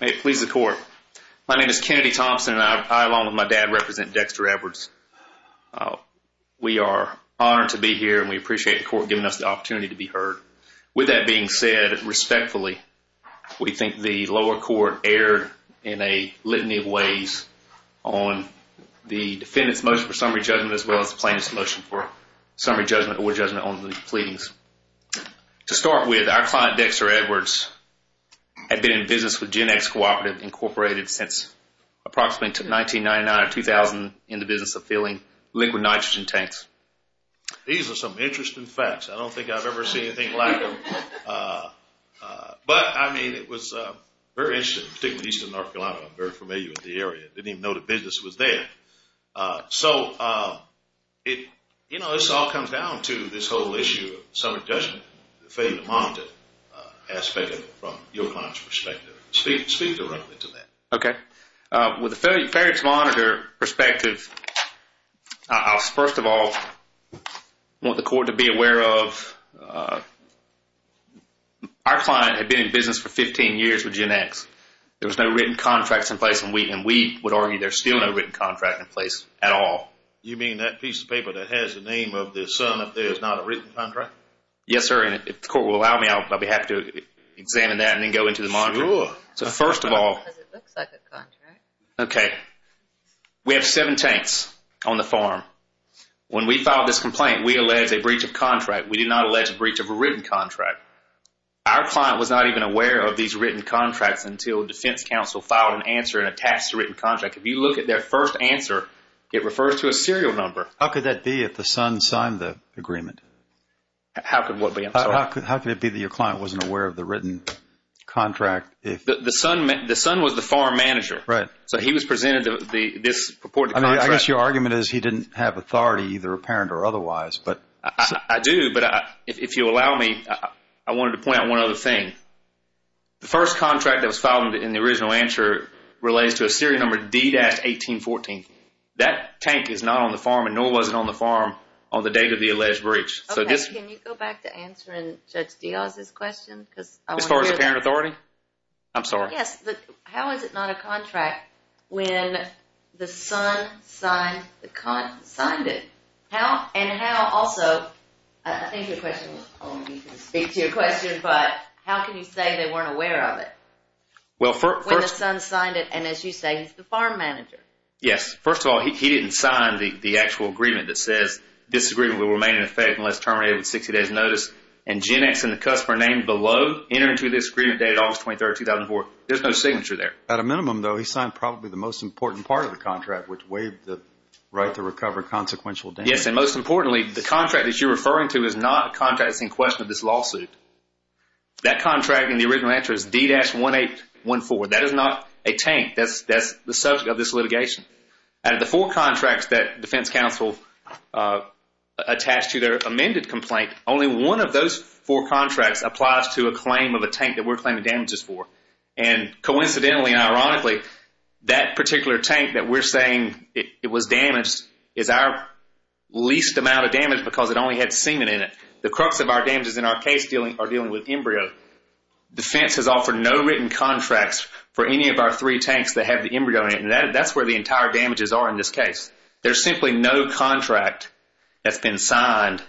May it please the court. My name is Kennedy Thompson and I, along with my dad, represent Dexter Edwards. We are honored to be here and we appreciate the court giving us the opportunity to be heard. With that being said, respectfully, we think the lower court erred in a litany of ways on the defendant's motion for summary judgment as well as the plaintiff's motion for summary judgment or judgment on the pleadings. To start with, our client, Dexter Edwards, had been in business with Genex Cooperative, Inc. since approximately 1999 or 2000 in the business of filling liquid nitrogen tanks. These are some interesting facts. I don't think I've ever seen anything like them. But, I mean, it was very interesting, particularly eastern North Carolina. I'm very familiar with the area. I didn't even know the business was there. So, you know, this all comes down to this whole issue of summary judgment, failure to monitor aspect of it from your client's perspective. Speak directly to that. Okay. With the failure to monitor perspective, I first of all want the court to be aware of our client had been in business for 15 years with Genex. There was no written contracts in place and we would argue there's still no written contract in place at all. You mean that piece of paper that has the name of the son up there is not a written contract? Yes, sir. And if the court will allow me, I'll be happy to examine that and then go into the monitoring. Sure. So, first of all. Because it looks like a contract. Okay. We have seven tanks on the farm. When we filed this complaint, we alleged a breach of contract. We did not allege a breach of a written contract. Our client was not even aware of these written contracts until defense counsel filed an answer and attached a written contract. If you look at their first answer, it refers to a serial number. How could that be if the son signed the contract? How could it be that your client wasn't aware of the written contract? The son was the farm manager. Right. So, he was presented this purported contract. I guess your argument is he didn't have authority, either apparent or otherwise. I do, but if you allow me, I wanted to point out one other thing. The first contract that was filed in the original answer relates to a serial number D-1814. That tank is not on the farm and nor was it on the farm on the date of the alleged breach. Can you go back to answering Judge Diaz's question? As far as apparent authority? I'm sorry. Yes, but how is it not a contract when the son signed it? How and how also, I think your question, I don't know if you can speak to your question, but how can you say they weren't aware of it? When the son signed it and as you say, he's the farm manager. Yes. First of all, he didn't sign the actual agreement that says this agreement will terminate at 60 days notice and Gen X and the customer name below enter into this agreement dated August 23, 2004. There's no signature there. At a minimum, though, he signed probably the most important part of the contract, which waived the right to recover consequential damages. Yes, and most importantly, the contract that you're referring to is not a contract that's in question of this lawsuit. That contract in the original answer is D-1814. That is not a tank. That's the subject of this litigation. Out of the four contracts that defense counsel attached to their amended complaint, only one of those four contracts applies to a claim of a tank that we're claiming damages for. And coincidentally and ironically, that particular tank that we're saying it was damaged is our least amount of damage because it only had semen in it. The crux of our damages in our case are dealing with embryo. Defense has offered no written contracts for any of our three tanks that have the embryo in it, and that's where the entire damages are in this case. There's simply no contract that's been signed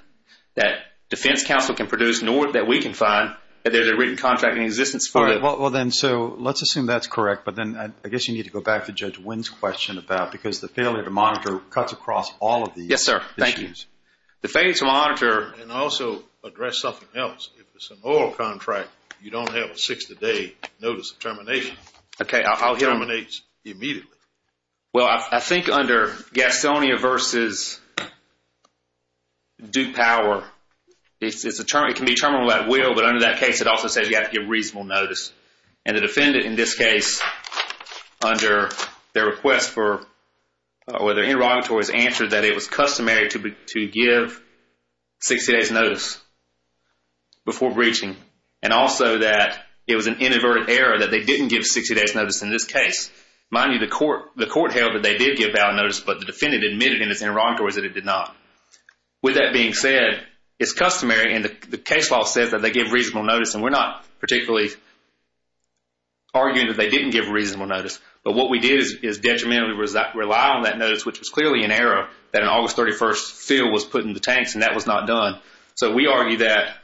that defense counsel can produce nor that we can find that there's a written contract in existence for it. Well, then, so let's assume that's correct, but then I guess you need to go back to Judge Wynn's question about because the failure to monitor cuts across all of these issues. Yes, sir. Thank you. The failure to monitor and also address something else. If it's an oral contract, you don't have a 60-day notice of Gastonia versus Duke Power. It can be terminal at will, but under that case, it also says you have to give reasonable notice. And the defendant in this case, under their request for interrogatories, answered that it was customary to give 60 days notice before breaching, and also that it was an inadvertent error that they didn't give 60 days notice in this case. Mind you, the court held that they did give valid notice, but the defendant admitted in his interrogatories that it did not. With that being said, it's customary, and the case law says that they give reasonable notice, and we're not particularly arguing that they didn't give reasonable notice, but what we did is detrimentally rely on that notice, which was clearly an error that an August 31st fill was put in the tanks, and that was not done. So we argue that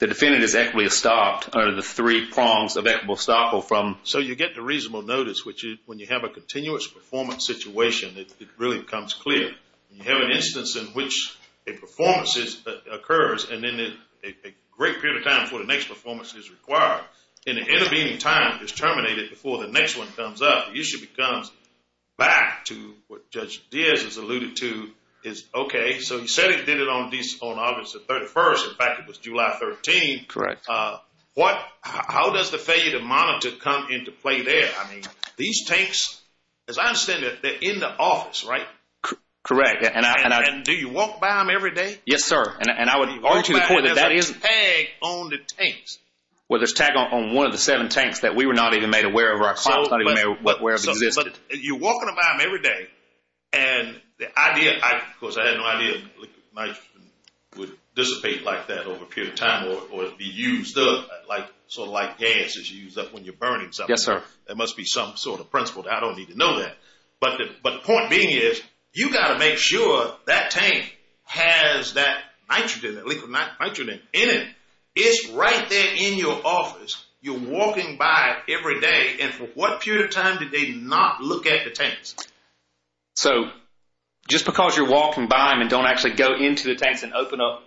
the defendant is equitably stopped under the three prongs that that will stop him from... So you get the reasonable notice, which is when you have a continuous performance situation, it really becomes clear. You have an instance in which a performance occurs, and then a great period of time before the next performance is required, and the intervening time is terminated before the next one comes up. The issue becomes back to what Judge Diaz has alluded to is, okay, so he said he did it on August 31st. In fact, it was July 13th. Correct. How does the failure to monitor come into play there? I mean, these tanks, as I understand it, they're in the office, right? Correct. And do you walk by them every day? Yes, sir. And I would argue to the point that that is... There's a tag on the tanks. Well, there's a tag on one of the seven tanks that we were not even made aware of. But you're walking about them every day, and the idea... Of course, I had no idea would dissipate like that over a period of time or be used up like sort of like gases you use up when you're burning something. Yes, sir. There must be some sort of principle. I don't need to know that. But the point being is you got to make sure that tank has that nitrogen, that liquid What period of time did they not look at the tanks? So just because you're walking by them and don't actually go into the tanks and open up...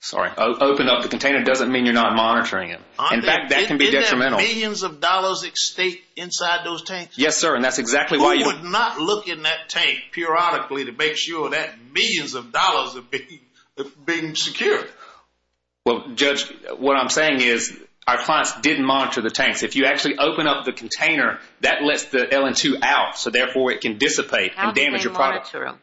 Sorry, open up the container doesn't mean you're not monitoring it. In fact, that can be detrimental. Didn't they have millions of dollars at stake inside those tanks? Yes, sir. And that's exactly why... Who would not look in that tank periodically to make sure that millions of dollars are being secured? Well, Judge, what didn't monitor the tanks. If you actually open up the container, that lets the LN2 out, so therefore it can dissipate and damage your product. How do they monitor them?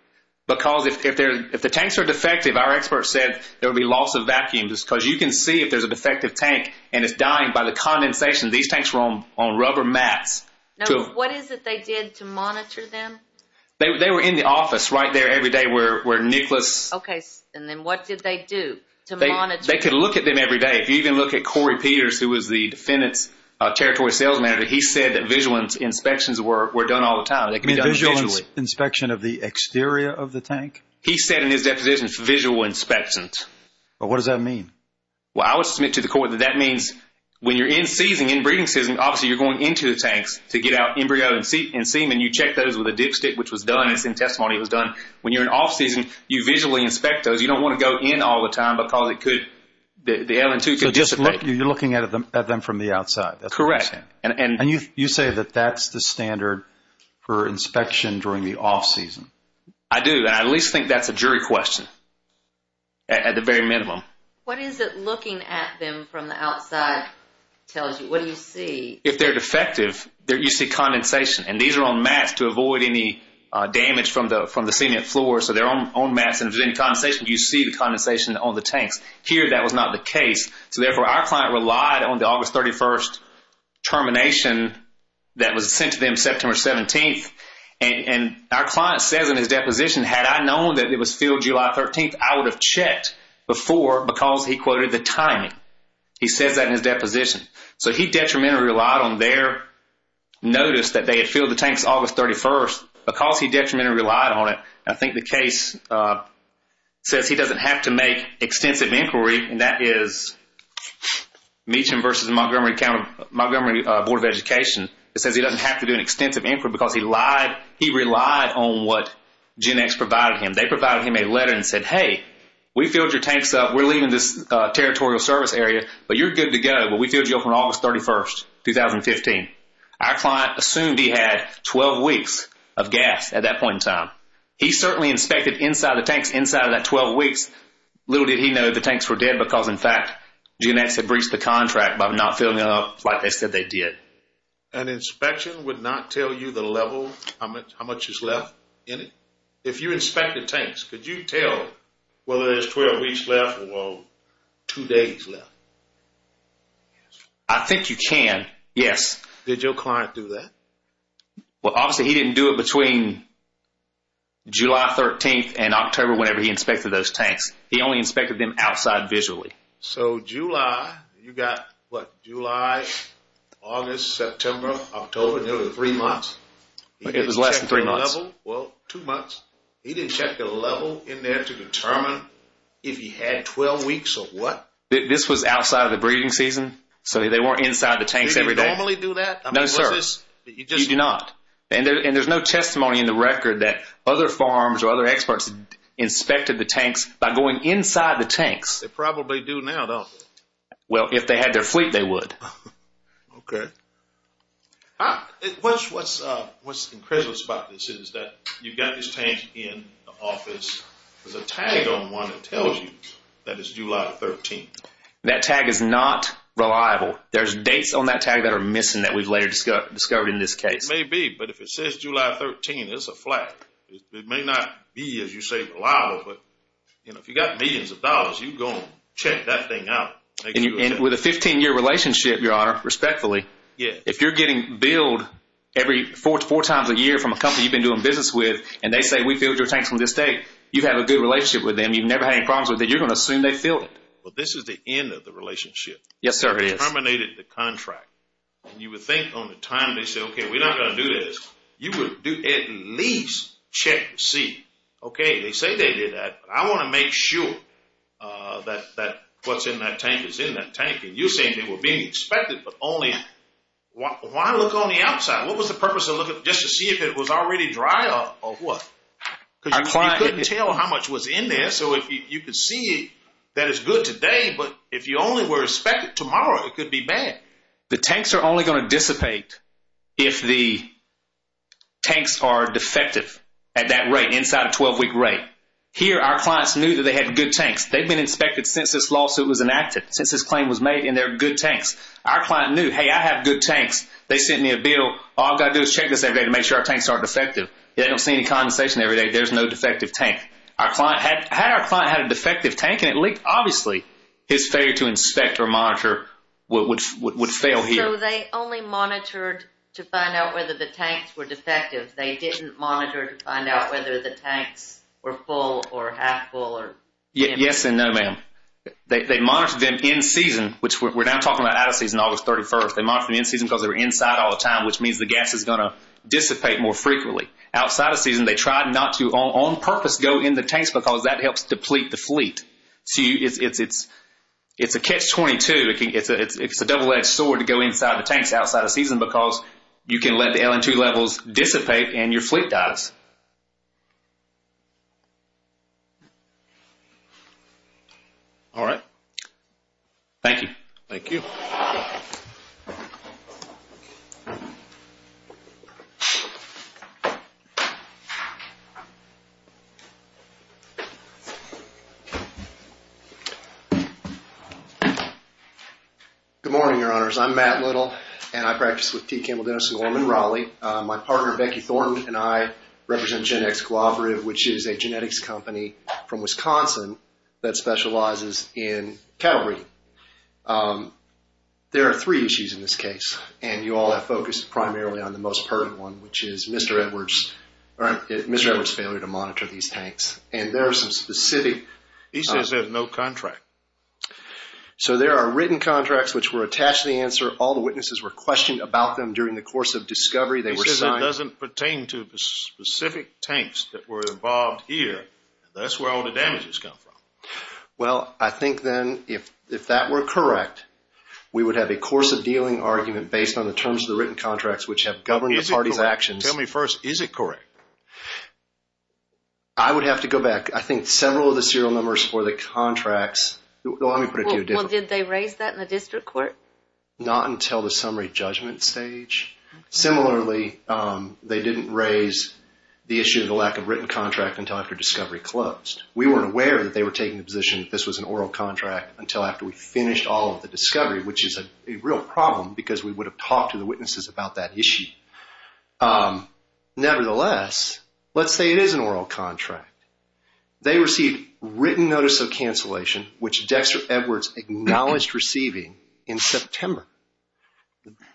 Because if the tanks are defective, our experts said there would be loss of vacuum just because you can see if there's a defective tank and it's dying by the condensation. These tanks were on rubber mats. Now, what is it they did to monitor them? They were in the office right there every day where Nicholas... Okay, and then what did they do to monitor? They could look at them every day. If you even look at Corey Peters, who was the defendant's territory sales manager, he said that visual inspections were done all the time. They could be done visually. You mean visual inspection of the exterior of the tank? He said in his depositions, visual inspection. Well, what does that mean? Well, I would submit to the court that that means when you're in-season, in-breeding season, obviously you're going into the tanks to get out embryo and semen. You check those with a dipstick, which was done. It's in testimony. It was done. When you're in off-season, you visually inspect those. You don't want to go in all the time because the LN2 could dissipate. You're looking at them from the outside. Correct. You say that that's the standard for inspection during the off-season. I do. I at least think that's a jury question at the very minimum. What is it looking at them from the outside tells you? What do you see? If they're defective, you see condensation. These are on mats to avoid any damage from the cement floor. They're on mats. If there's any condensation, you see the condensation on the tanks. Here, that was not the case. So therefore, our client relied on the August 31st termination that was sent to them September 17th. And our client says in his deposition, had I known that it was filled July 13th, I would have checked before because he quoted the timing. He says that in his deposition. So he detrimentally relied on their notice that they had filled the tanks August 31st because he detrimentally relied on it. I think the case says he doesn't have to make extensive inquiry and that is Meacham versus Montgomery County, Montgomery Board of Education. It says he doesn't have to do an extensive inquiry because he lied. He relied on what GenX provided him. They provided him a letter and said, hey, we filled your tanks up. We're leaving this territorial service area, but you're good to go. But we filled you up on August 31st, 2015. Our client assumed he had 12 weeks of gas at that point in time. He certainly inspected inside the tanks inside of that 12 weeks. Little did he know the tanks were dead because, in fact, GenX had breached the contract by not filling up like they said they did. An inspection would not tell you the level, how much is left in it? If you inspected tanks, could you tell whether there's 12 weeks left or two days left? I think you can, yes. Did your client do that? Well, obviously, he didn't do it between July 13th and October whenever he inspected those tanks. He only inspected them outside visually. So July, you got, what, July, August, September, October. There were three months. It was less than three months. Well, two months. He didn't check the level in there to determine if he had 12 weeks or what? This was outside of the breeding season, so they weren't inside the tanks every day. Did he normally do that? No, sir. You do not. And there's no testimony in the record that other farms or other experts inspected the tanks by going inside the tanks. They probably do now, don't they? Well, if they had their fleet, they would. Okay. What's incredible about this is that you've got this tank in the office. There's a tag on one that tells you that it's July 13th. That tag is not reliable. There's dates on that tag that are missing that we've later discussed. It may be, but if it says July 13th, it's a flat. It may not be, as you say, reliable, but if you've got millions of dollars, you go and check that thing out. With a 15-year relationship, Your Honor, respectfully, if you're getting billed four times a year from a company you've been doing business with, and they say, we filled your tanks from this date, you have a good relationship with them. You've never had any problems with it. You're going to assume they filled it. But this is the end of the relationship. Yes, sir, it is. You terminated the contract. You would think on the time they say, okay, we're not going to do this. You would at least check to see. They say they did that. I want to make sure that what's in that tank is in that tank. And you're saying they were being expected, but only... Why look on the outside? What was the purpose of looking just to see if it was already dry or what? Because you couldn't tell how much was in there. So if you could see that it's good today, but if you only were expected tomorrow, it could be bad. The tanks are only going to dissipate if the tanks are defective at that rate, inside a 12-week rate. Here, our clients knew that they had good tanks. They've been inspected since this lawsuit was enacted, since this claim was made, and they're good tanks. Our client knew, hey, I have good tanks. They sent me a bill. All I've got to do is check this every day to make sure our tanks aren't defective. They don't see any condensation every day. There's no defective tank. Had our client had a defective tank and it leaked, obviously his failure to inspect or monitor would fail here. So they only monitored to find out whether the tanks were defective. They didn't monitor to find out whether the tanks were full or half full or... Yes and no, ma'am. They monitored them in season, which we're now talking about out of season, August 31st. They monitored them in season because they were inside all the time, which means the gas is going to dissipate more frequently. Outside of season, they tried not to, on purpose, go in the tanks because that helps deplete the fleet. So it's a catch-22. It's a double-edged sword to go inside the tanks outside of season because you can let the LN2 levels dissipate and your fleet dies. All right. Thank you. Thank you. Good morning, your honors. I'm Matt Little and I practice with T. Campbell, Denison, Gorman, Raleigh. My partner, Becky Thornton, and I represent GenX Cooperative, which is a genetics company from Wisconsin that specializes in cattle breeding. There are three issues in this case, and you all have focused primarily on the most pertinent one, which is Mr. Edwards' failure to monitor these tanks. And there are some specific- These tanks are not defective. No contract. So there are written contracts which were attached to the answer. All the witnesses were questioned about them during the course of discovery. They were signed- It doesn't pertain to specific tanks that were involved here. That's where all the damages come from. Well, I think then if that were correct, we would have a course of dealing argument based on the terms of the written contracts, which have governed the party's actions. Tell me first, is it correct? I would have to go back. I think several of the serial numbers for the contracts- Well, let me put it to you differently. Well, did they raise that in the district court? Not until the summary judgment stage. Similarly, they didn't raise the issue of the lack of written contract until after discovery closed. We weren't aware that they were taking the position that this was an oral contract until after we finished all of the discovery, which is a real problem because we would have talked to the witnesses about that issue. Nevertheless, let's say it is an oral contract. They received written notice of cancellation, which Dexter Edwards acknowledged receiving in September.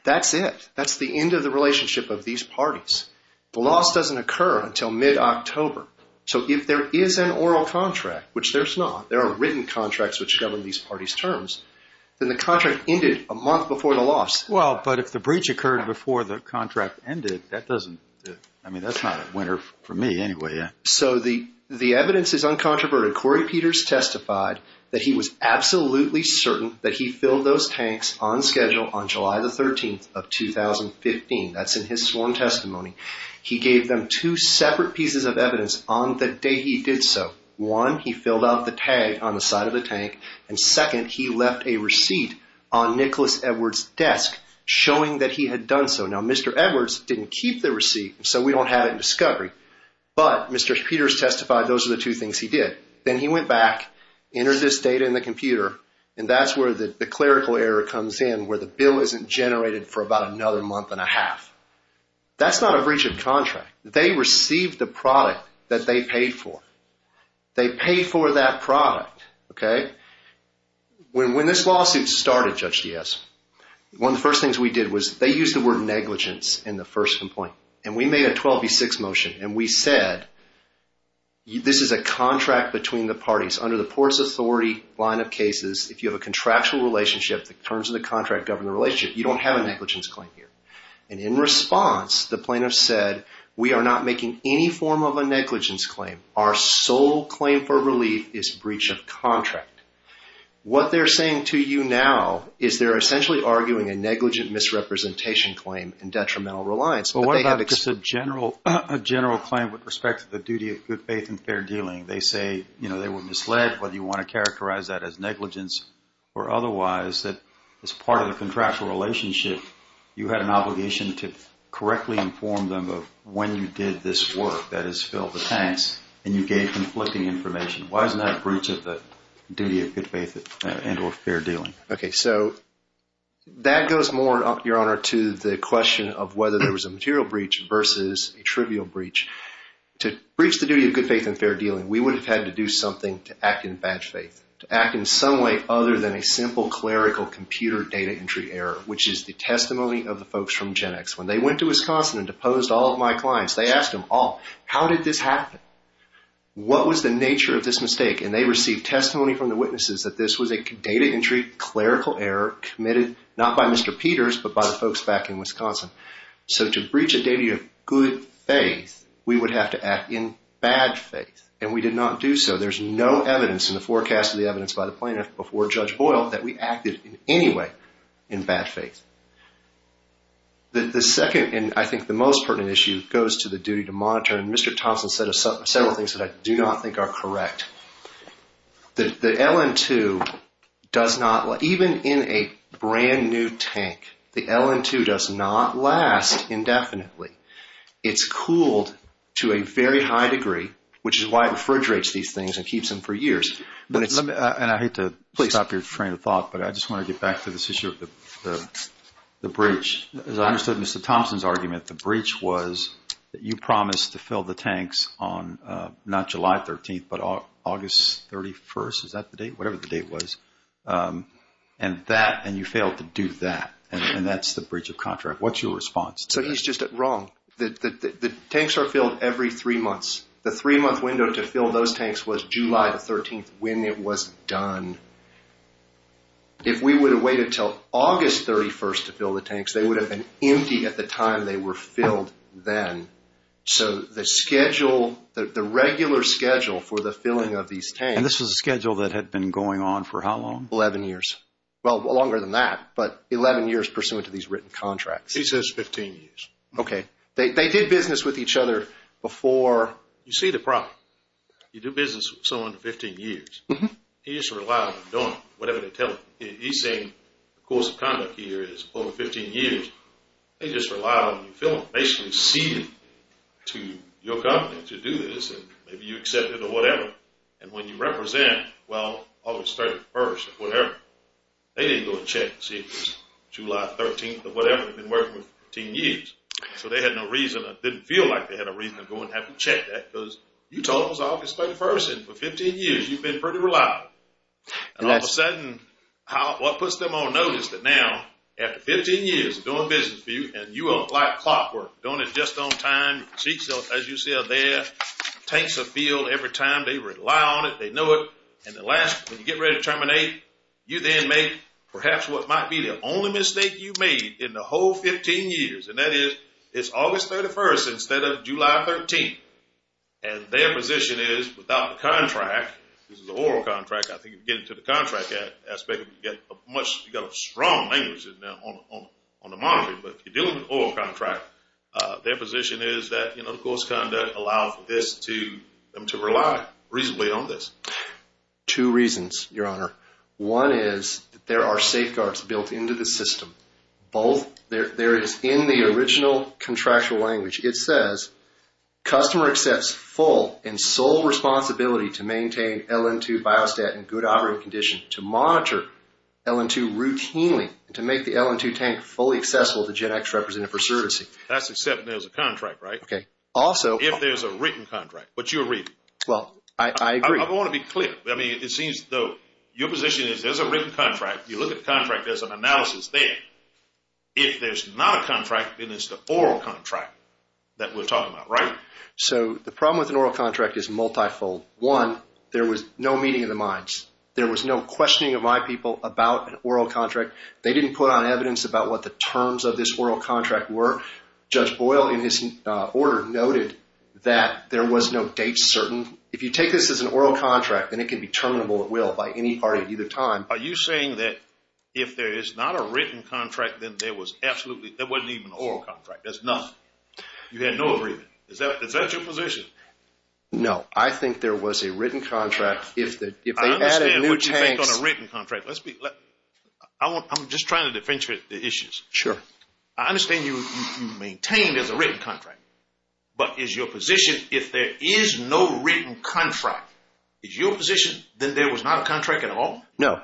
That's it. That's the end of the relationship of these parties. The loss doesn't occur until mid-October. So if there is an oral contract, which there's not, there are written contracts which govern these parties' terms, then the contract ended a month before the loss. Well, but if the breach occurred before the contract ended, that doesn't- I mean, that's not a winner for me anyway, yeah? So the evidence is uncontroverted. Corey Peters testified that he was absolutely certain that he filled those tanks on schedule on July the 13th of 2015. That's in his sworn testimony. He gave them two separate pieces of evidence on the day he did so. One, he filled out the tag on the side of the tank. And second, he left a receipt on Nicholas Edwards' desk showing that he had done so. Now, Mr. Edwards didn't keep the receipt, so we don't have it in discovery. But Mr. Peters testified those are the two things he did. Then he went back, entered this data in the computer, and that's where the clerical error comes in, where the bill isn't generated for about another month and a half. That's not a breach of contract. They received the product that they paid for. They paid for that product, okay? When this lawsuit started, Judge Diaz, one of the first things we did was, they used the word negligence in the first complaint. And we made a 12v6 motion. And we said, this is a contract between the parties. Under the Ports Authority line of cases, if you have a contractual relationship, the terms of the contract govern the relationship. You don't have a negligence claim here. And in response, the plaintiff said, we are not making any form of a negligence claim. Our sole claim for relief is breach of contract. What they're saying to you now, is they're essentially arguing a negligent misrepresentation claim and detrimental reliance. What about just a general claim with respect to the duty of good faith and fair dealing? They say, you know, they were misled. Whether you want to characterize that as negligence or otherwise, that as part of the contractual relationship, you had an obligation to correctly inform them of when you did this work. That is, fill the tanks and you gave conflicting information. Why isn't that a breach of the duty of good faith and or fair dealing? Okay, so that goes more, Your Honor, to the question of whether there was a material breach versus a trivial breach. To breach the duty of good faith and fair dealing, we would have had to do something to act in bad faith. To act in some way other than a simple clerical computer data entry error, which is the testimony of the folks from GenX. When they went to Wisconsin and deposed all of my clients, they asked them all, how did this happen? What was the nature of this mistake? And they received testimony from the witnesses that this was a data entry clerical error committed, not by Mr. Peters, but by the folks back in Wisconsin. So to breach a data of good faith, we would have to act in bad faith. And we did not do so. There's no evidence in the forecast of the evidence by the plaintiff before Judge Boyle that we acted in any way in bad faith. The second and I think the most pertinent issue goes to the duty to monitor. And Mr. Thompson said several things that I do not think are correct. The LN2 does not, even in a brand new tank, the LN2 does not last indefinitely. It's cooled to a very high degree, which is why it refrigerates these things and keeps them for years. And I hate to stop your train of thought, but I just want to get back to this issue of the breach. As I understood Mr. Thompson's argument, the breach was that you promised to fill the tanks on not July 13th, August 31st, is that the date? Whatever the date was. And that, and you failed to do that. And that's the breach of contract. What's your response? So he's just wrong. The tanks are filled every three months. The three month window to fill those tanks was July the 13th when it was done. If we would have waited till August 31st to fill the tanks, they would have been empty at the time they were filled then. So the schedule, the regular schedule for the filling of these tanks... And this was a schedule that had been going on for how long? 11 years. Well, longer than that, but 11 years pursuant to these written contracts. He says 15 years. Okay. They did business with each other before... You see the problem. You do business with someone for 15 years. He just relies on them doing whatever they tell him. He's saying the course of conduct here is over 15 years. They just rely on you filling, basically ceding to your company to do this. And maybe you accept it or whatever. And when you represent, well, August 31st or whatever, they didn't go and check and see if it was July 13th or whatever. They've been working for 15 years. So they had no reason, didn't feel like they had a reason to go and have to check that. Because you told them it was August 31st and for 15 years you've been pretty reliable. And all of a sudden, what puts them on notice that now, after 15 years of doing business for you and you are like clockwork, doing it just on time, as you said there, tanks of fuel every time they rely on it, they know it. And the last, when you get ready to terminate, you then make perhaps what might be the only mistake you've made in the whole 15 years. And that is, it's August 31st instead of July 13th. And their position is, without the contract, this is an oral contract, I think if you get into the contract aspect, you've got a strong language on the monitoring. But if you're dealing with an oral contract, their position is that the course conduct allows them to rely reasonably on this. Two reasons, Your Honor. One is, there are safeguards built into the system. Both, there is in the original contractual language, it says, customer accepts full and sole responsibility to maintain LN2 biostat in good operating condition to monitor LN2 routinely to make the LN2 tank fully accessible to GEDX representative for servicing. That's except there's a contract, right? Okay. Also... If there's a written contract, but you're reading. Well, I agree. I want to be clear. I mean, it seems though, your position is there's a written contract. You look at the contract, there's an analysis there. If there's not a contract, then it's the oral contract that we're talking about, right? So the problem with an oral contract is multifold. One, there was no meeting of the minds. There was no questioning of my people about an oral contract. They didn't put on evidence about what the terms of this oral contract were. Judge Boyle in his order noted that there was no date certain. If you take this as an oral contract, then it can be terminable at will by any party at either time. Are you saying that if there is not a written contract, then there was absolutely... There wasn't even an oral contract. There's nothing. You had no agreement. Is that your position? No, I think there was a written contract. I understand what you think on a written contract. I'm just trying to differentiate the issues. Sure. I understand you maintain there's a written contract. But is your position, if there is no written contract, is your position that there was not a contract at all? No.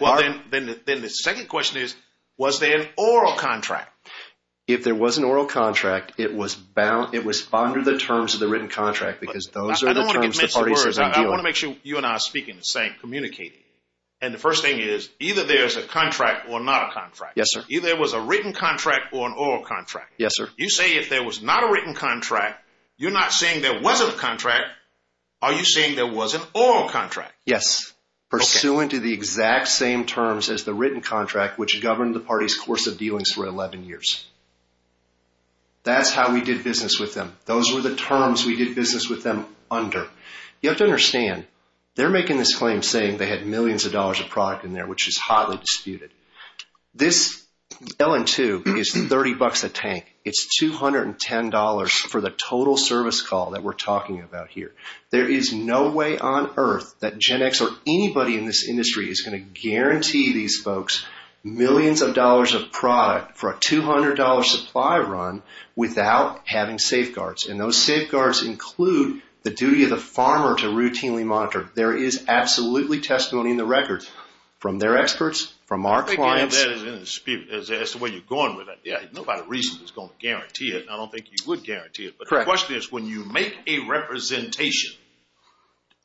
Well, then the second question is, was there an oral contract? If there was an oral contract, it was under the terms of the written contract because those are the terms the parties have been dealing with. You and I are speaking the same, communicating. And the first thing is, either there's a contract or not a contract. Yes, sir. Either there was a written contract or an oral contract. Yes, sir. You say if there was not a written contract, you're not saying there wasn't a contract. Are you saying there was an oral contract? Yes, pursuant to the exact same terms as the written contract, which governed the party's course of dealings for 11 years. That's how we did business with them. Those were the terms we did business with them under. You have to understand, they're making this claim saying they had millions of dollars of product in there, which is hotly disputed. This LN2 is 30 bucks a tank. It's $210 for the total service call that we're talking about here. There is no way on earth that GenX or anybody in this industry is going to guarantee these folks millions of dollars of product for a $200 supply run without having safeguards. Those safeguards include the duty of the farmer to routinely monitor. There is absolutely testimony in the records from their experts, from our clients. I think that is disputed as to where you're going with that. Nobody recently is going to guarantee it. I don't think you would guarantee it. The question is, when you make a representation,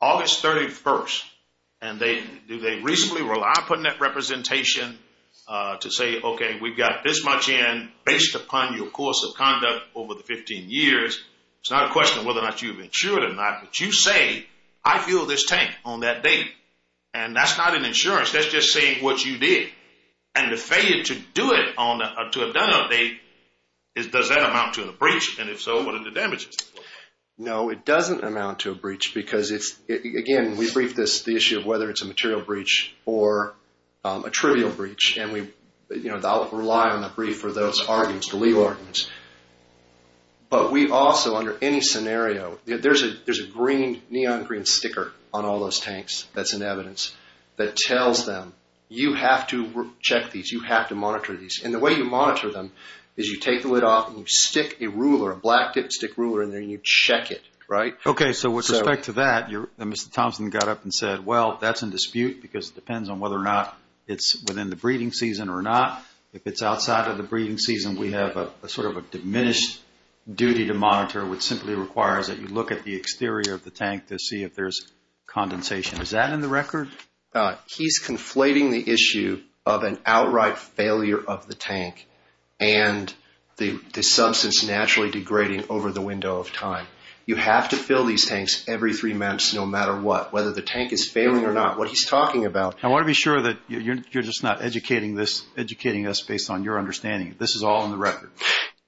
August 31st, and do they reasonably rely on putting that representation to say, we've got this much in based upon your course of conduct over the 15 years. It's not a question of whether or not you've insured or not, but you say, I feel this tank on that date. That's not an insurance. That's just saying what you did. The failure to do it or to have done a date, does that amount to a breach? If so, what are the damages? No, it doesn't amount to a breach because, again, we briefed this, the issue of whether it's a material breach or a trivial breach. I'll rely on the brief for those arguments, the legal arguments. But we also, under any scenario, there's a green, neon green sticker on all those tanks that's in evidence that tells them, you have to check these. You have to monitor these. The way you monitor them is you take the lid off and you stick a ruler, a black stick ruler in there and you check it, right? Okay, so with respect to that, Mr. Thompson got up and said, well, that's in dispute because it depends on whether or not it's within the breeding season or not. If it's outside of the breeding season, we have a sort of a diminished duty to monitor, which simply requires that you look at the exterior of the tank to see if there's condensation. Is that in the record? He's conflating the issue of an outright failure of the tank and the substance naturally degrading over the window of time. You have to fill these tanks every three months, no matter what, whether the tank is failing or not, what he's talking about. I want to be sure that you're just not educating us based on your understanding. This is all in the record.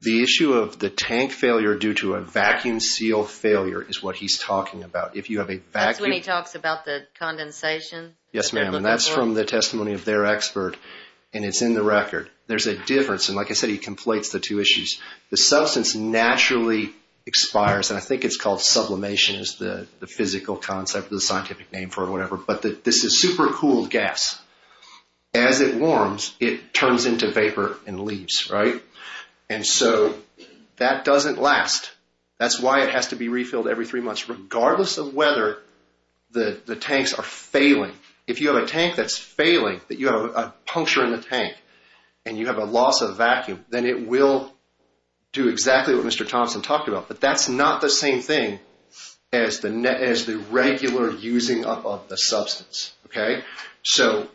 The issue of the tank failure due to a vacuum seal failure is what he's talking about. That's when he talks about the condensation? Yes, ma'am, and that's from the testimony of their expert, and it's in the record. There's a difference, and like I said, he conflates the two issues. The substance naturally expires, and I think it's called sublimation, is the physical concept, the scientific name for it or whatever, but this is supercooled gas. As it warms, it turns into vapor and leaves, right? And so that doesn't last. That's why it has to be refilled every three months, regardless of whether the tanks are failing. If you have a tank that's failing, that you have a puncture in the tank, and you have a loss of vacuum, then it will do exactly what Mr. Thompson talked about, but that's not the same thing as the regular using of the substance, okay? So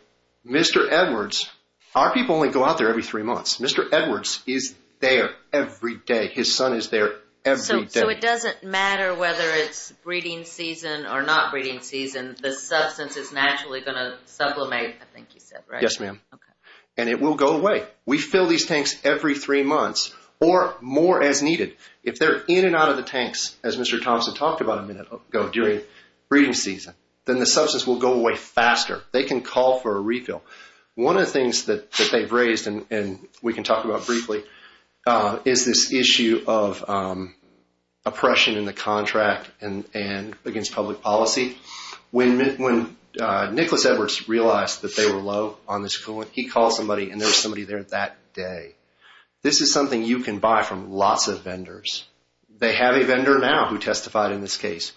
Mr. Edwards, our people only go out there every three months. Mr. Edwards is there every day. His son is there every day. So it doesn't matter whether it's breeding season or not breeding season, the substance is naturally going to supplement, I think you said, right? Yes, ma'am, and it will go away. We fill these tanks every three months or more as needed. If they're in and out of the tanks, as Mr. Thompson talked about a minute ago during breeding season, then the substance will go away faster. They can call for a refill. One of the things that they've raised and we can talk about briefly is this issue of oppression in the contract and against public policy. When Nicholas Edwards realized that they were low on this coolant, he called somebody and there was somebody there that day. This is something you can buy from lots of vendors. They have a vendor now who testified in this case.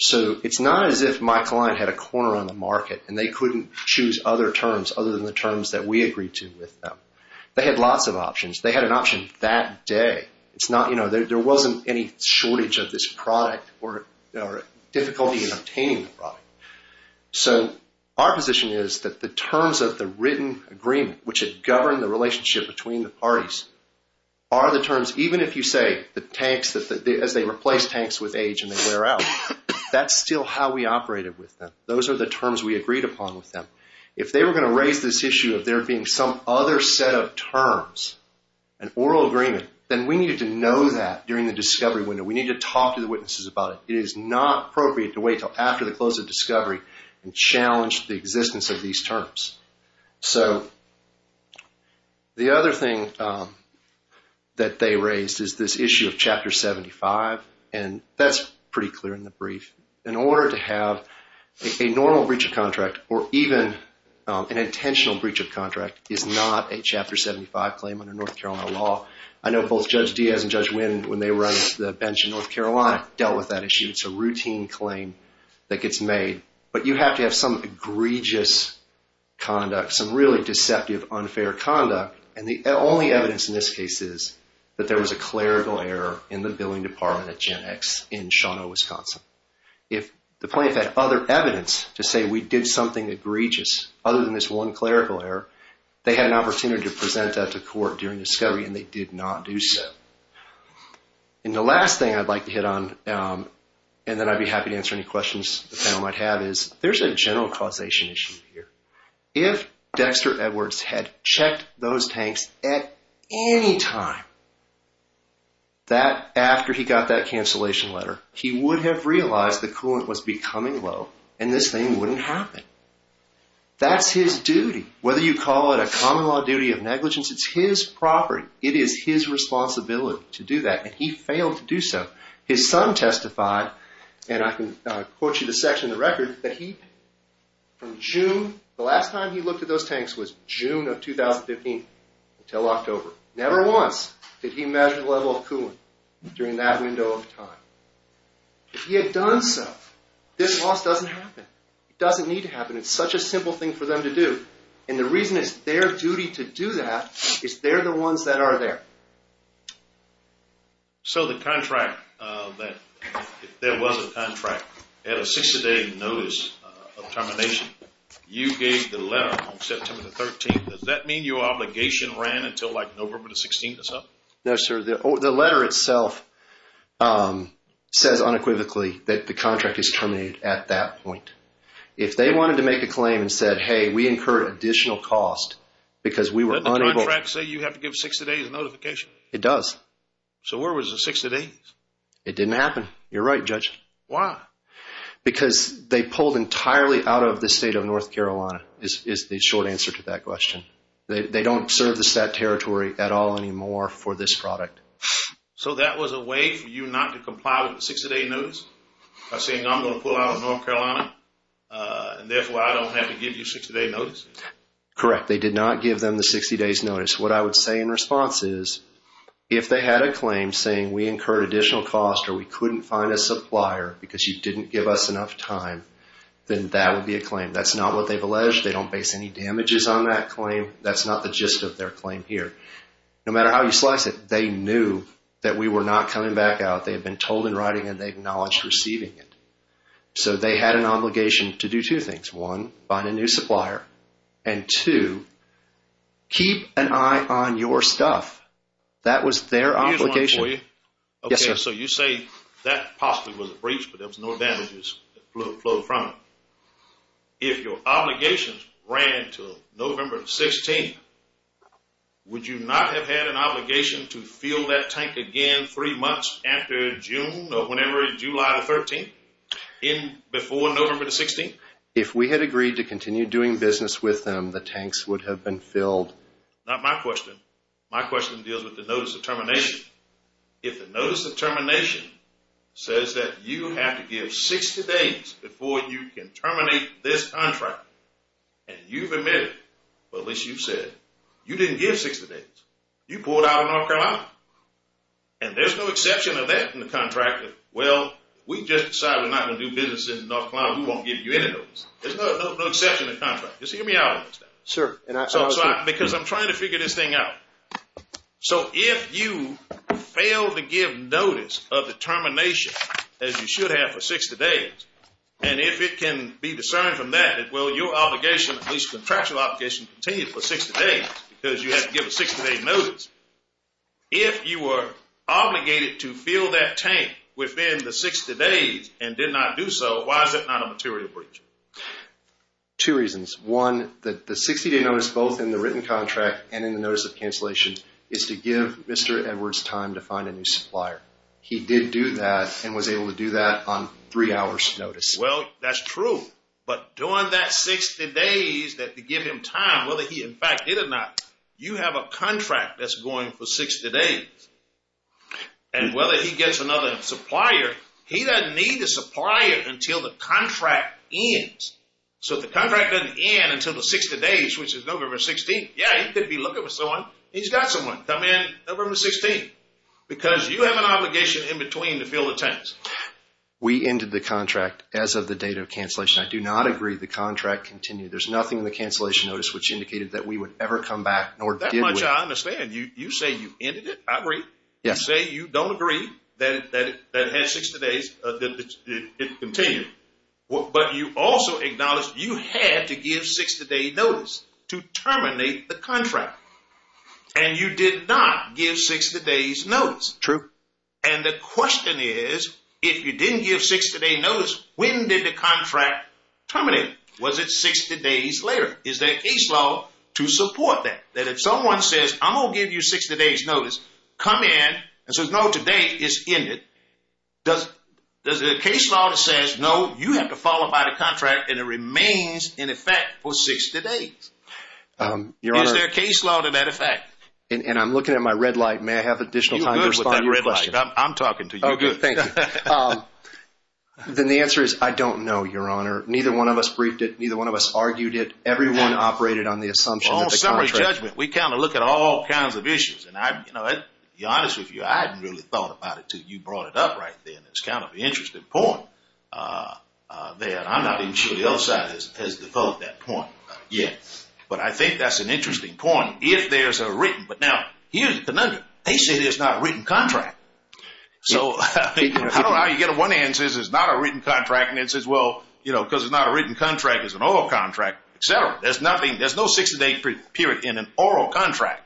So it's not as if my client had a corner on the market and they couldn't choose other terms other than the terms that we agreed to with them. They had lots of options. They had an option that day. It's not, you know, there wasn't any shortage of this product or difficulty in obtaining the product. So our position is that the terms of the written agreement which had governed the relationship between the parties are the terms, even if you say the tanks as they replace tanks with age and they wear out, that's still how we operated with them. Those are the terms we agreed upon with them. If they were going to raise this issue of there being some other set of terms, an oral agreement, then we needed to know that during the discovery window. We need to talk to the witnesses about it. It is not appropriate to wait till after the close of discovery and challenge the existence of these terms. So the other thing that they raised is this issue of Chapter 75 and that's pretty clear in the brief. In order to have a normal breach of contract or even an intentional breach of contract is not a Chapter 75 claim under North Carolina law. I know both Judge Diaz and Judge Winn when they were on the bench in North Carolina dealt with that issue. It's a routine claim that gets made. But you have to have some egregious conduct, some really deceptive unfair conduct. And the only evidence in this case is that there was a clerical error in the billing department at Gen X in Shawano, Wisconsin. If the plaintiff had other evidence to say we did something egregious other than this one clerical error, they had an opportunity to present that to court during discovery and they did not do so. And the last thing I'd like to hit on and then I'd be happy to answer any questions the panel might have is there's a general causation issue here. If Dexter Edwards had checked those tanks at any time that after he got that cancellation letter, he would have realized the coolant was becoming low and this thing wouldn't happen. That's his duty. Whether you call it a common law duty of negligence, it's his property. It is his responsibility to do that and he failed to do so. His son testified and I can quote you the section of the record that he from June, the last time he looked at those tanks was June of 2015 until October. Never once did he measure the level of coolant during that window of time. If he had done so, this loss doesn't happen. It doesn't need to happen. It's such a simple thing for them to do and the reason it's their duty to do that is they're the ones that are there. So, the contract that there was a contract at a 60-day notice of termination. You gave the letter on September the 13th. Does that mean your obligation ran until like November the 16th or something? No, sir. The letter itself says unequivocally that the contract is terminated at that point. If they wanted to make a claim and said, hey, we incur additional cost because we were unable... It does. So, where was the 60 days? It didn't happen. You're right, Judge. Why? Because they pulled entirely out of the state of North Carolina is the short answer to that question. They don't serve the stat territory at all anymore for this product. So, that was a way for you not to comply with the 60-day notice by saying I'm going to pull out of North Carolina and therefore I don't have to give you 60-day notice? Correct. They did not give them the 60-days notice. What I would say in response is, if they had a claim saying we incurred additional cost or we couldn't find a supplier because you didn't give us enough time, then that would be a claim. That's not what they've alleged. They don't base any damages on that claim. That's not the gist of their claim here. No matter how you slice it, they knew that we were not coming back out. They had been told in writing and they acknowledged receiving it. So, they had an obligation to do two things. One, find a new supplier. And two, keep an eye on your stuff. That was their obligation. Here's one for you. Yes, sir. So, you say that possibly was a breach, but there was no damages flowed from it. If your obligations ran to November 16th, would you not have had an obligation to fill that tank again three months after June or whenever, July the 13th before November the 16th? If we had agreed to continue doing business with them, the tanks would have been filled. Not my question. My question deals with the notice of termination. If the notice of termination says that you have to give 60 days before you can terminate this contract and you've admitted, well, at least you've said, you didn't give 60 days. You pulled out of North Carolina. And there's no exception of that in the contract. Well, we just decided we're not going to do business in North Carolina. We won't give you any notice. There's no exception in the contract. Just hear me out on this. Sure. Because I'm trying to figure this thing out. So, if you fail to give notice of the termination, as you should have for 60 days, and if it can be discerned from that, well, your obligation, at least contractual obligation, continues for 60 days because you have to give a 60 day notice. If you were obligated to fill that tank within the 60 days and did not do so, why is it not a material breach? Two reasons. One, that the 60 day notice, both in the written contract and in the notice of cancellation, is to give Mr. Edwards time to find a new supplier. He did do that and was able to do that on three hours notice. Well, that's true. But during that 60 days to give him time, whether he in fact did or not, you have a contract that's going for 60 days. And whether he gets another supplier, he doesn't need a supplier until the contract ends. So, if the contract doesn't end until the 60 days, which is November 16th, yeah, he could be looking for someone. He's got someone. Come in November 16th because you have an obligation in between to fill the tanks. We ended the contract as of the date of cancellation. I do not agree the contract continued. There's nothing in the cancellation notice which indicated that we would ever come back. Nor did we. That much I understand. You say you ended it. I agree. Yes. You don't agree that it continued. But you also acknowledged you had to give 60 day notice to terminate the contract. And you did not give 60 days notice. True. And the question is, if you didn't give 60 day notice, when did the contract terminate? Was it 60 days later? Is there a case law to support that? If someone says, I'm going to give you 60 days notice. Come in and say, no, today is ended. Does there a case law that says, no, you have to follow by the contract and it remains in effect for 60 days? Is there a case law to that effect? And I'm looking at my red light. May I have additional time to respond to your question? I'm talking to you. Oh, good. Thank you. Then the answer is, I don't know, Your Honor. Neither one of us argued it. Everyone operated on the assumption that the contract... We kind of look at all kinds of issues. And you know, to be honest with you, I hadn't really thought about it until you brought it up right then. It's kind of an interesting point there. And I'm not even sure the other side has developed that point yet. But I think that's an interesting point. If there's a written... But now, here's the conundrum. They say there's not a written contract. So I don't know how you get a one answer. There's not a written contract. And it says, well, you know, because there's not a written contract, there's an oral contract, et cetera. There's no 60-day period in an oral contract.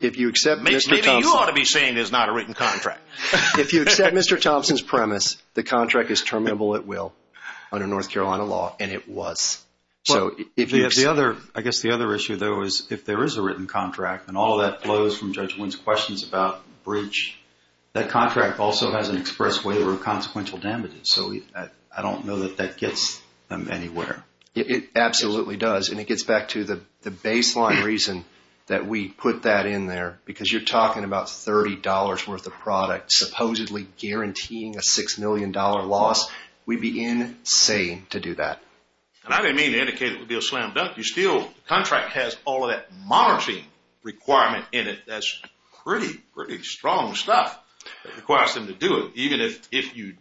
If you accept... Maybe you ought to be saying there's not a written contract. If you accept Mr. Thompson's premise, the contract is terminable at will under North Carolina law. And it was. I guess the other issue, though, is if there is a written contract, and all of that flows from Judge Wynn's questions about bridge, that contract also has an express waiver of consequential damages. So I don't know that that gets them anywhere. It absolutely does. And it gets back to the baseline reason that we put that in there, because you're talking about $30 worth of product supposedly guaranteeing a $6 million loss. We'd be insane to do that. And I didn't mean to indicate it would be a slam dunk. You still... The contract has all of that monitoring requirement in it. That's pretty, pretty strong stuff that requires them to do it.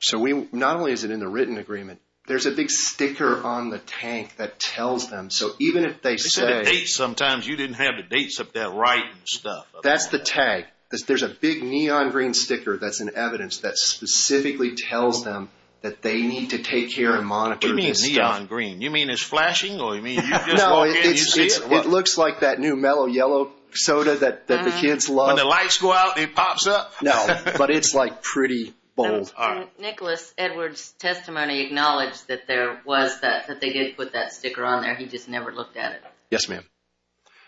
So not only is it in the written agreement, there's a big sticker on the tank that tells them. So even if they say... They said the dates sometimes. You didn't have the dates up there right and stuff. That's the tag. There's a big neon green sticker that's in evidence that specifically tells them that they need to take care and monitor the stuff. What do you mean neon green? You mean it's flashing? Or you mean you just walk in and you see it? It looks like that new mellow yellow soda that the kids love. When the lights go out and it pops up? No, but it's like pretty bold. Nicholas Edwards' testimony acknowledged that there was that... That they did put that sticker on there. He just never looked at it. Yes, ma'am.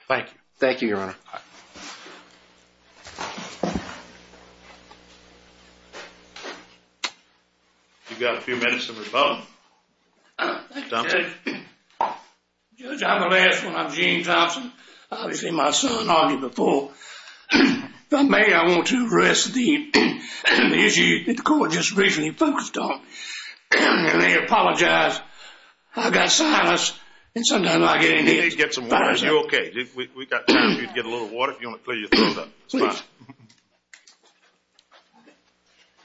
Thank you. Thank you, Your Honor. You've got a few minutes of rebuttal. Thank you, Judge. Judge, I'm the last one. I'm Gene Thompson. Obviously, my son argued before. If I may, I want to restate the issue that the court just briefly focused on. I may apologize. I've got sinus and sometimes I get in here... You need to get some water. Are you okay? We've got time for you to get a little water if you want to clear your throat up. It's fine.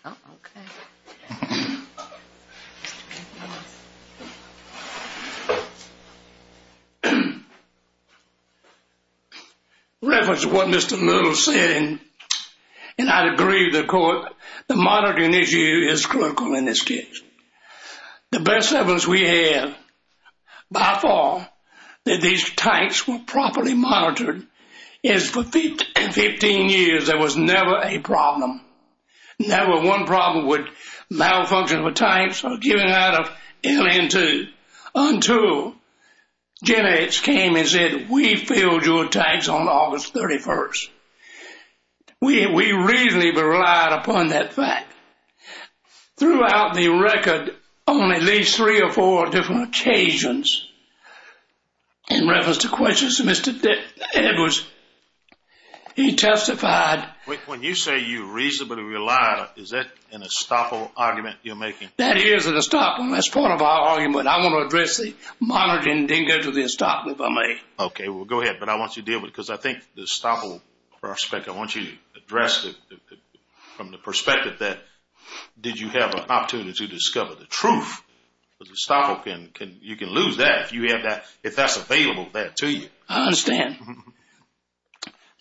Okay. Reference to what Mr. Little said, and I agree with the court, the monitoring issue is critical in this case. The best evidence we have by far that these tanks were properly monitored is for 15 years. There was never a problem. Never one problem with malfunctioning of the tanks or giving out of LN2 until Gen X came and said, we filled your tanks on August 31st. We reasonably relied upon that fact. Throughout the record, on at least three or four different occasions, in reference to questions to Mr. Edwards, he testified... When you say you reasonably relied, is that an estoppel argument you're making? That is an estoppel. That's part of our argument. I want to address the monitoring didn't go to the estoppel, if I may. Okay, well, go ahead. But I want you to deal with it because I think the estoppel prospect, I want you to address it from the perspective that did you have an opportunity to discover the truth? The estoppel, you can lose that if that's available there to you. I understand.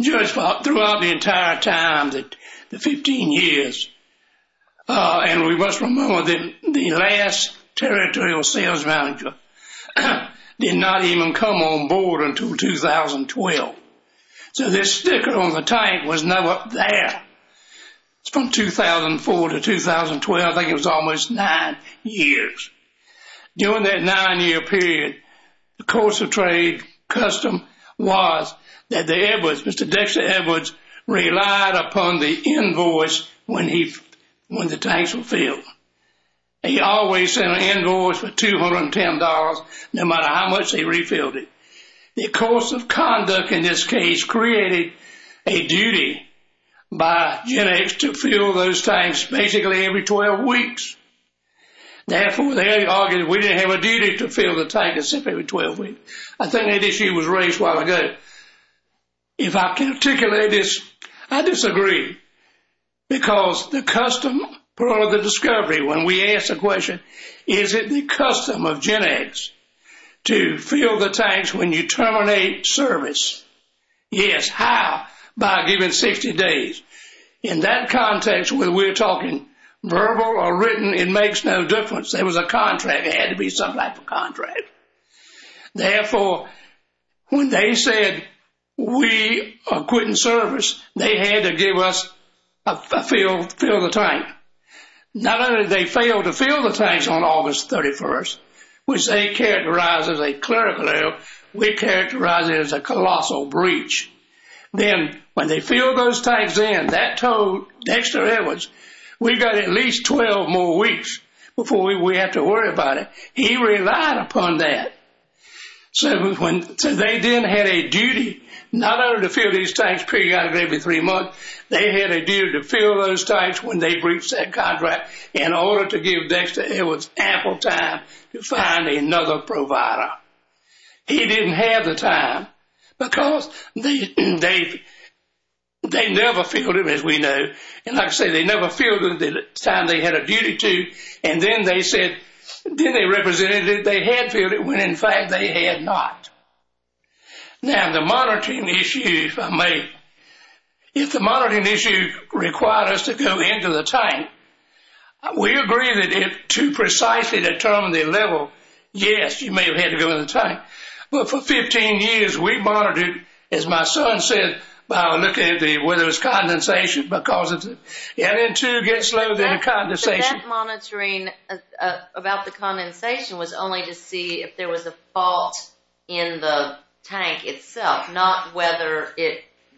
Just throughout the entire time, the 15 years, and we must remember that the last territorial sales manager did not even come on board until 2012. So this sticker on the tank was no up there. It's from 2004 to 2012. I think it was almost nine years. During that nine-year period, the course of trade custom was that the Edwards, Mr. Dexter Edwards relied upon the invoice when the tanks were filled. He always sent an invoice for $210, no matter how much they refilled it. The course of conduct in this case created a duty by GenX to fill those tanks basically every 12 weeks. Therefore, they argued we didn't have a duty to fill the tank except every 12 weeks. I think that issue was raised while ago. If I can articulate this, I disagree. Because the custom part of the discovery when we ask the question, is it the custom of GenX to fill the tanks when you terminate service? Yes. How? By giving 60 days. In that context, whether we're talking verbal or written, it makes no difference. There was a contract. There had to be some type of contract. Therefore, when they said we are quitting service, they had to give us a fill of the tank. Not only did they fail to fill the tanks on August 31st, which they characterized as a clerical error, we characterize it as a colossal breach. Then when they filled those tanks in, that told Dexter Edwards, we've got at least 12 more weeks before we have to worry about it. He relied upon that. They then had a duty not only to fill these tanks periodically every three months, they had a duty to fill those tanks when they reached that contract in order to give Dexter Edwards ample time to find another provider. He didn't have the time because they never filled them, as we know. Like I said, they never filled them the time they had a duty to, and then they represented that they had filled it when, in fact, they had not. Now, the monitoring issues are made. If the monitoring issue required us to go into the tank, we agree that to precisely determine the level, yes, you may have had to go in the tank. But for 15 years, we monitored, as my son said, by looking at whether it was condensation, because if the LN2 gets low, there's a condensation. But that monitoring about the condensation was only to see if there was a fault in the tank itself, not whether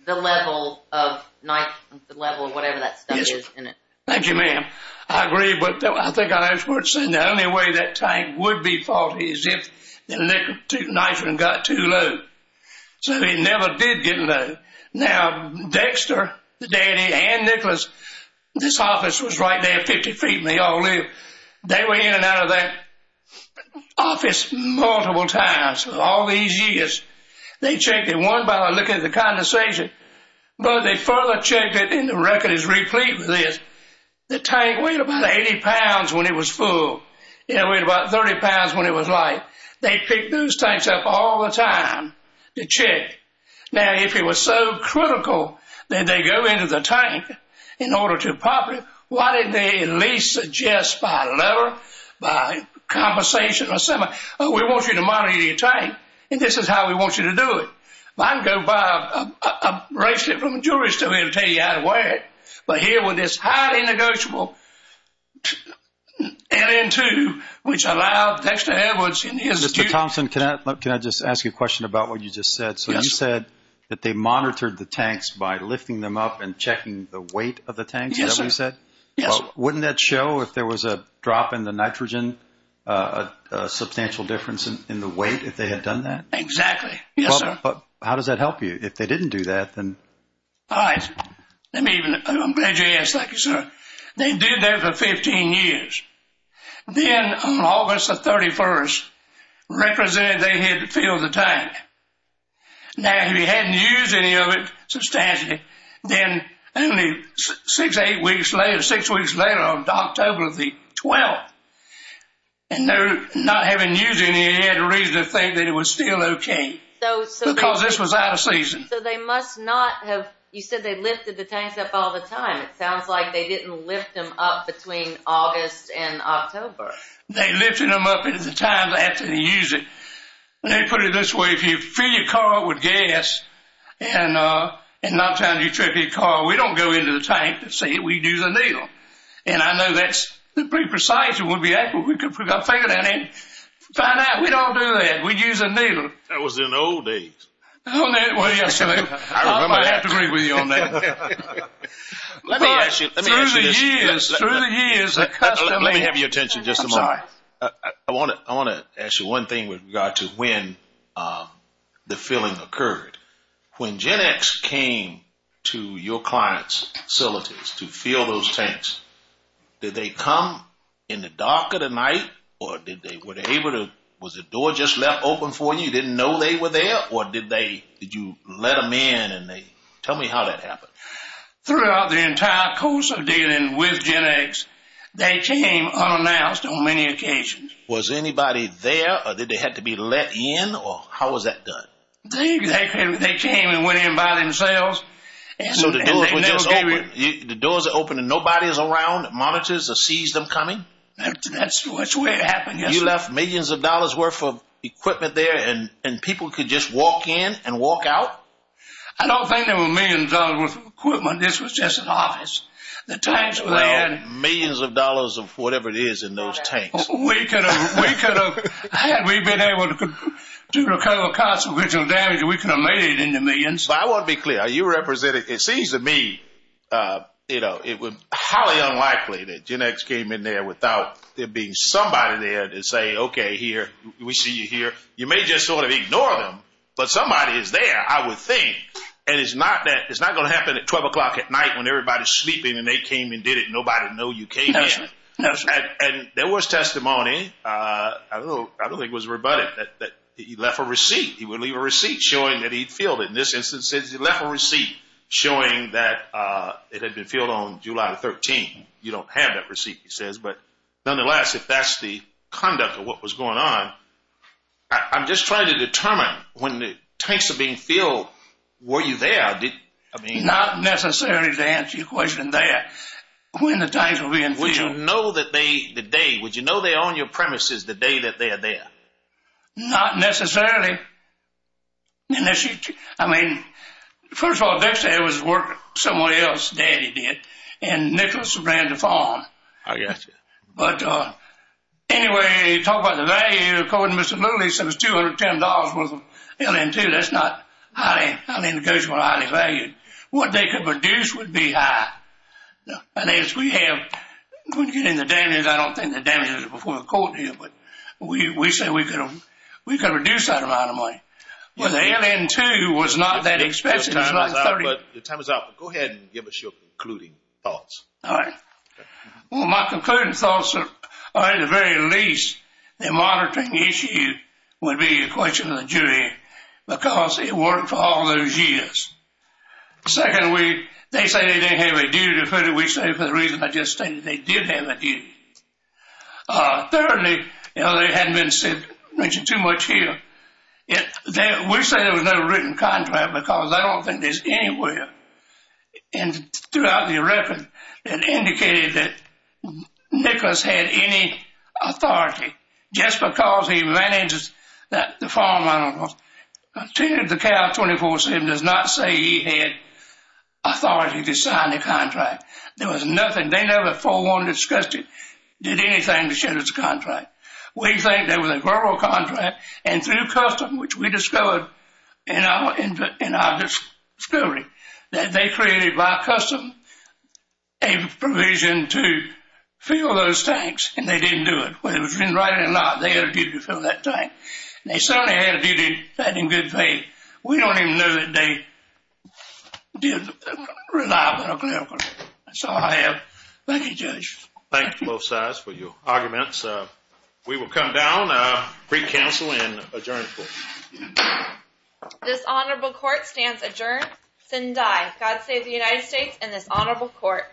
the level of nitrogen, the level of whatever that stuff is in it. Thank you, ma'am. I agree, but I think Edwards said the only way that tank would be faulty is if the nitrogen got too low. So it never did get low. Now, Dexter, the daddy, and Nicholas, this office was right there, 50 feet, and they all lived. They were in and out of that office multiple times all these years. They checked it one by looking at the condensation, but they further checked it, and the record is replete with this. The tank weighed about 80 pounds when it was full. It weighed about 30 pounds when it was light. They picked those tanks up all the time to check. Now, if it was so critical that they go into the tank in order to pop it, why didn't they at least suggest by lever, by compensation or something, oh, we want you to monitor your tank, and this is how we want you to do it. I can go buy a bracelet from a jewelry store here and tell you how to wear it, but here with this highly negotiable LN2, which allowed Dexter Edwards and his students— Mr. Thompson, can I just ask you a question about what you just said? So you said that they monitored the tanks by lifting them up and checking the weight of the tanks. Yes, sir. Is that what you said? Yes, sir. Wouldn't that show if there was a drop in the nitrogen, a substantial difference in the weight if they had done that? Exactly. Yes, sir. But how does that help you? If they didn't do that, then— All right, let me even—I'm glad you asked. Thank you, sir. They did that for 15 years. Then on August the 31st, represented they had filled the tank. Now, if you hadn't used any of it substantially, then only six weeks later on October the 12th, and not having used any, they had reason to think that it was still okay because this was out of season. So they must not have— you said they lifted the tanks up all the time. It sounds like they didn't lift them up between August and October. They lifted them up at the time after they used it. Let me put it this way. If you fill your car up with gas and not trying to trip your car, we don't go into the tank to see it. We do the needle. And I know that's pretty precise. It wouldn't be accurate. We could put our finger down there and find out. We don't do that. We use a needle. That was in the old days. Well, yes, I remember that. I have to agree with you on that. Let me ask you— Through the years, through the years, the custom— Let me have your attention just a moment. I'm sorry. I want to ask you one thing with regard to when the filling occurred. When GenX came to your client's facilities to fill those tanks, did they come in the dark of the night or did they— was the door just left open for you? You didn't know they were there or did they— did you let them in and they— tell me how that happened. Throughout the entire course of dealing with GenX, they came unannounced on many occasions. Was anybody there or did they have to be let in or how was that done? They came and went in by themselves. So the door was just open. The doors are open and nobody's around that monitors or sees them coming? That's the way it happened, yes. You left millions of dollars' worth of equipment there and people could just walk in and walk out? I don't think there were millions of dollars' worth of equipment. This was just an office. The tanks were there— They had millions of dollars of whatever it is in those tanks. We could have— We could have— Had we been able to recover the consequential damage, we could have made it in the millions. I want to be clear. Are you representing— It seems to me, you know, it was highly unlikely that GenX came in there without there being somebody there to say, okay, here, we see you here. You may just sort of ignore them, but somebody is there, I would think. And it's not that— It's not going to happen at 12 o'clock at night when everybody's sleeping and they came and did it. Nobody know you came in. And there was testimony. I don't think it was rebutted that he left a receipt. He would leave a receipt showing that he'd filled it. In this instance, he left a receipt showing that it had been filled on July 13. You don't have that receipt, he says. Nonetheless, if that's the conduct of what was going on, I'm just trying to determine, when the tanks are being filled, were you there? Not necessarily to answer your question there. When the tanks were being filled— Would you know that they— The day— Would you know they're on your premises the day that they are there? Not necessarily. I mean, first of all, Dexter had his work somewhere else. Daddy did. And Nicholas ran the farm. I gotcha. But anyway, talk about the value. According to Mr. Lilley, he said it was $210 worth of LN2. That's not highly negotiable or highly valued. What they could reduce would be high. And as we have— When you get into damages, I don't think the damages are before the court here, but we say we could reduce that amount of money. Well, the LN2 was not that expensive. It was like $30— Your time is up. Go ahead and give us your concluding thoughts. All right. Well, my concluding thoughts are, at the very least, the monitoring issue would be a question of the jury, because it worked for all those years. Second, we— They say they didn't have a duty to put it. We say, for the reason I just stated, they did have a duty. Thirdly, you know, they hadn't been mentioned too much here. We say there was no written contract, because I don't think there's anywhere in throughout the record that indicated that Nicklaus had any authority. Just because he manages the farm, I don't know, continued to cow 24-7, does not say he had authority to sign the contract. There was nothing— They never forewarned, discussed it, did anything to shatter the contract. We think there was a verbal contract, and through custom, which we discovered in our discovery, that they created, by custom, a provision to fill those tanks, and they didn't do it. Whether it was written right or not, they had a duty to fill that tank. They certainly had a duty to do that in good faith. We don't even know that they did rely on a clerical. That's all I have. Thank you, Judge. Thank you, both sides, for your arguments. We will come down, recounsel, and adjourn, please. This honorable court stands adjourned. Sin Dai. God save the United States and this honorable court.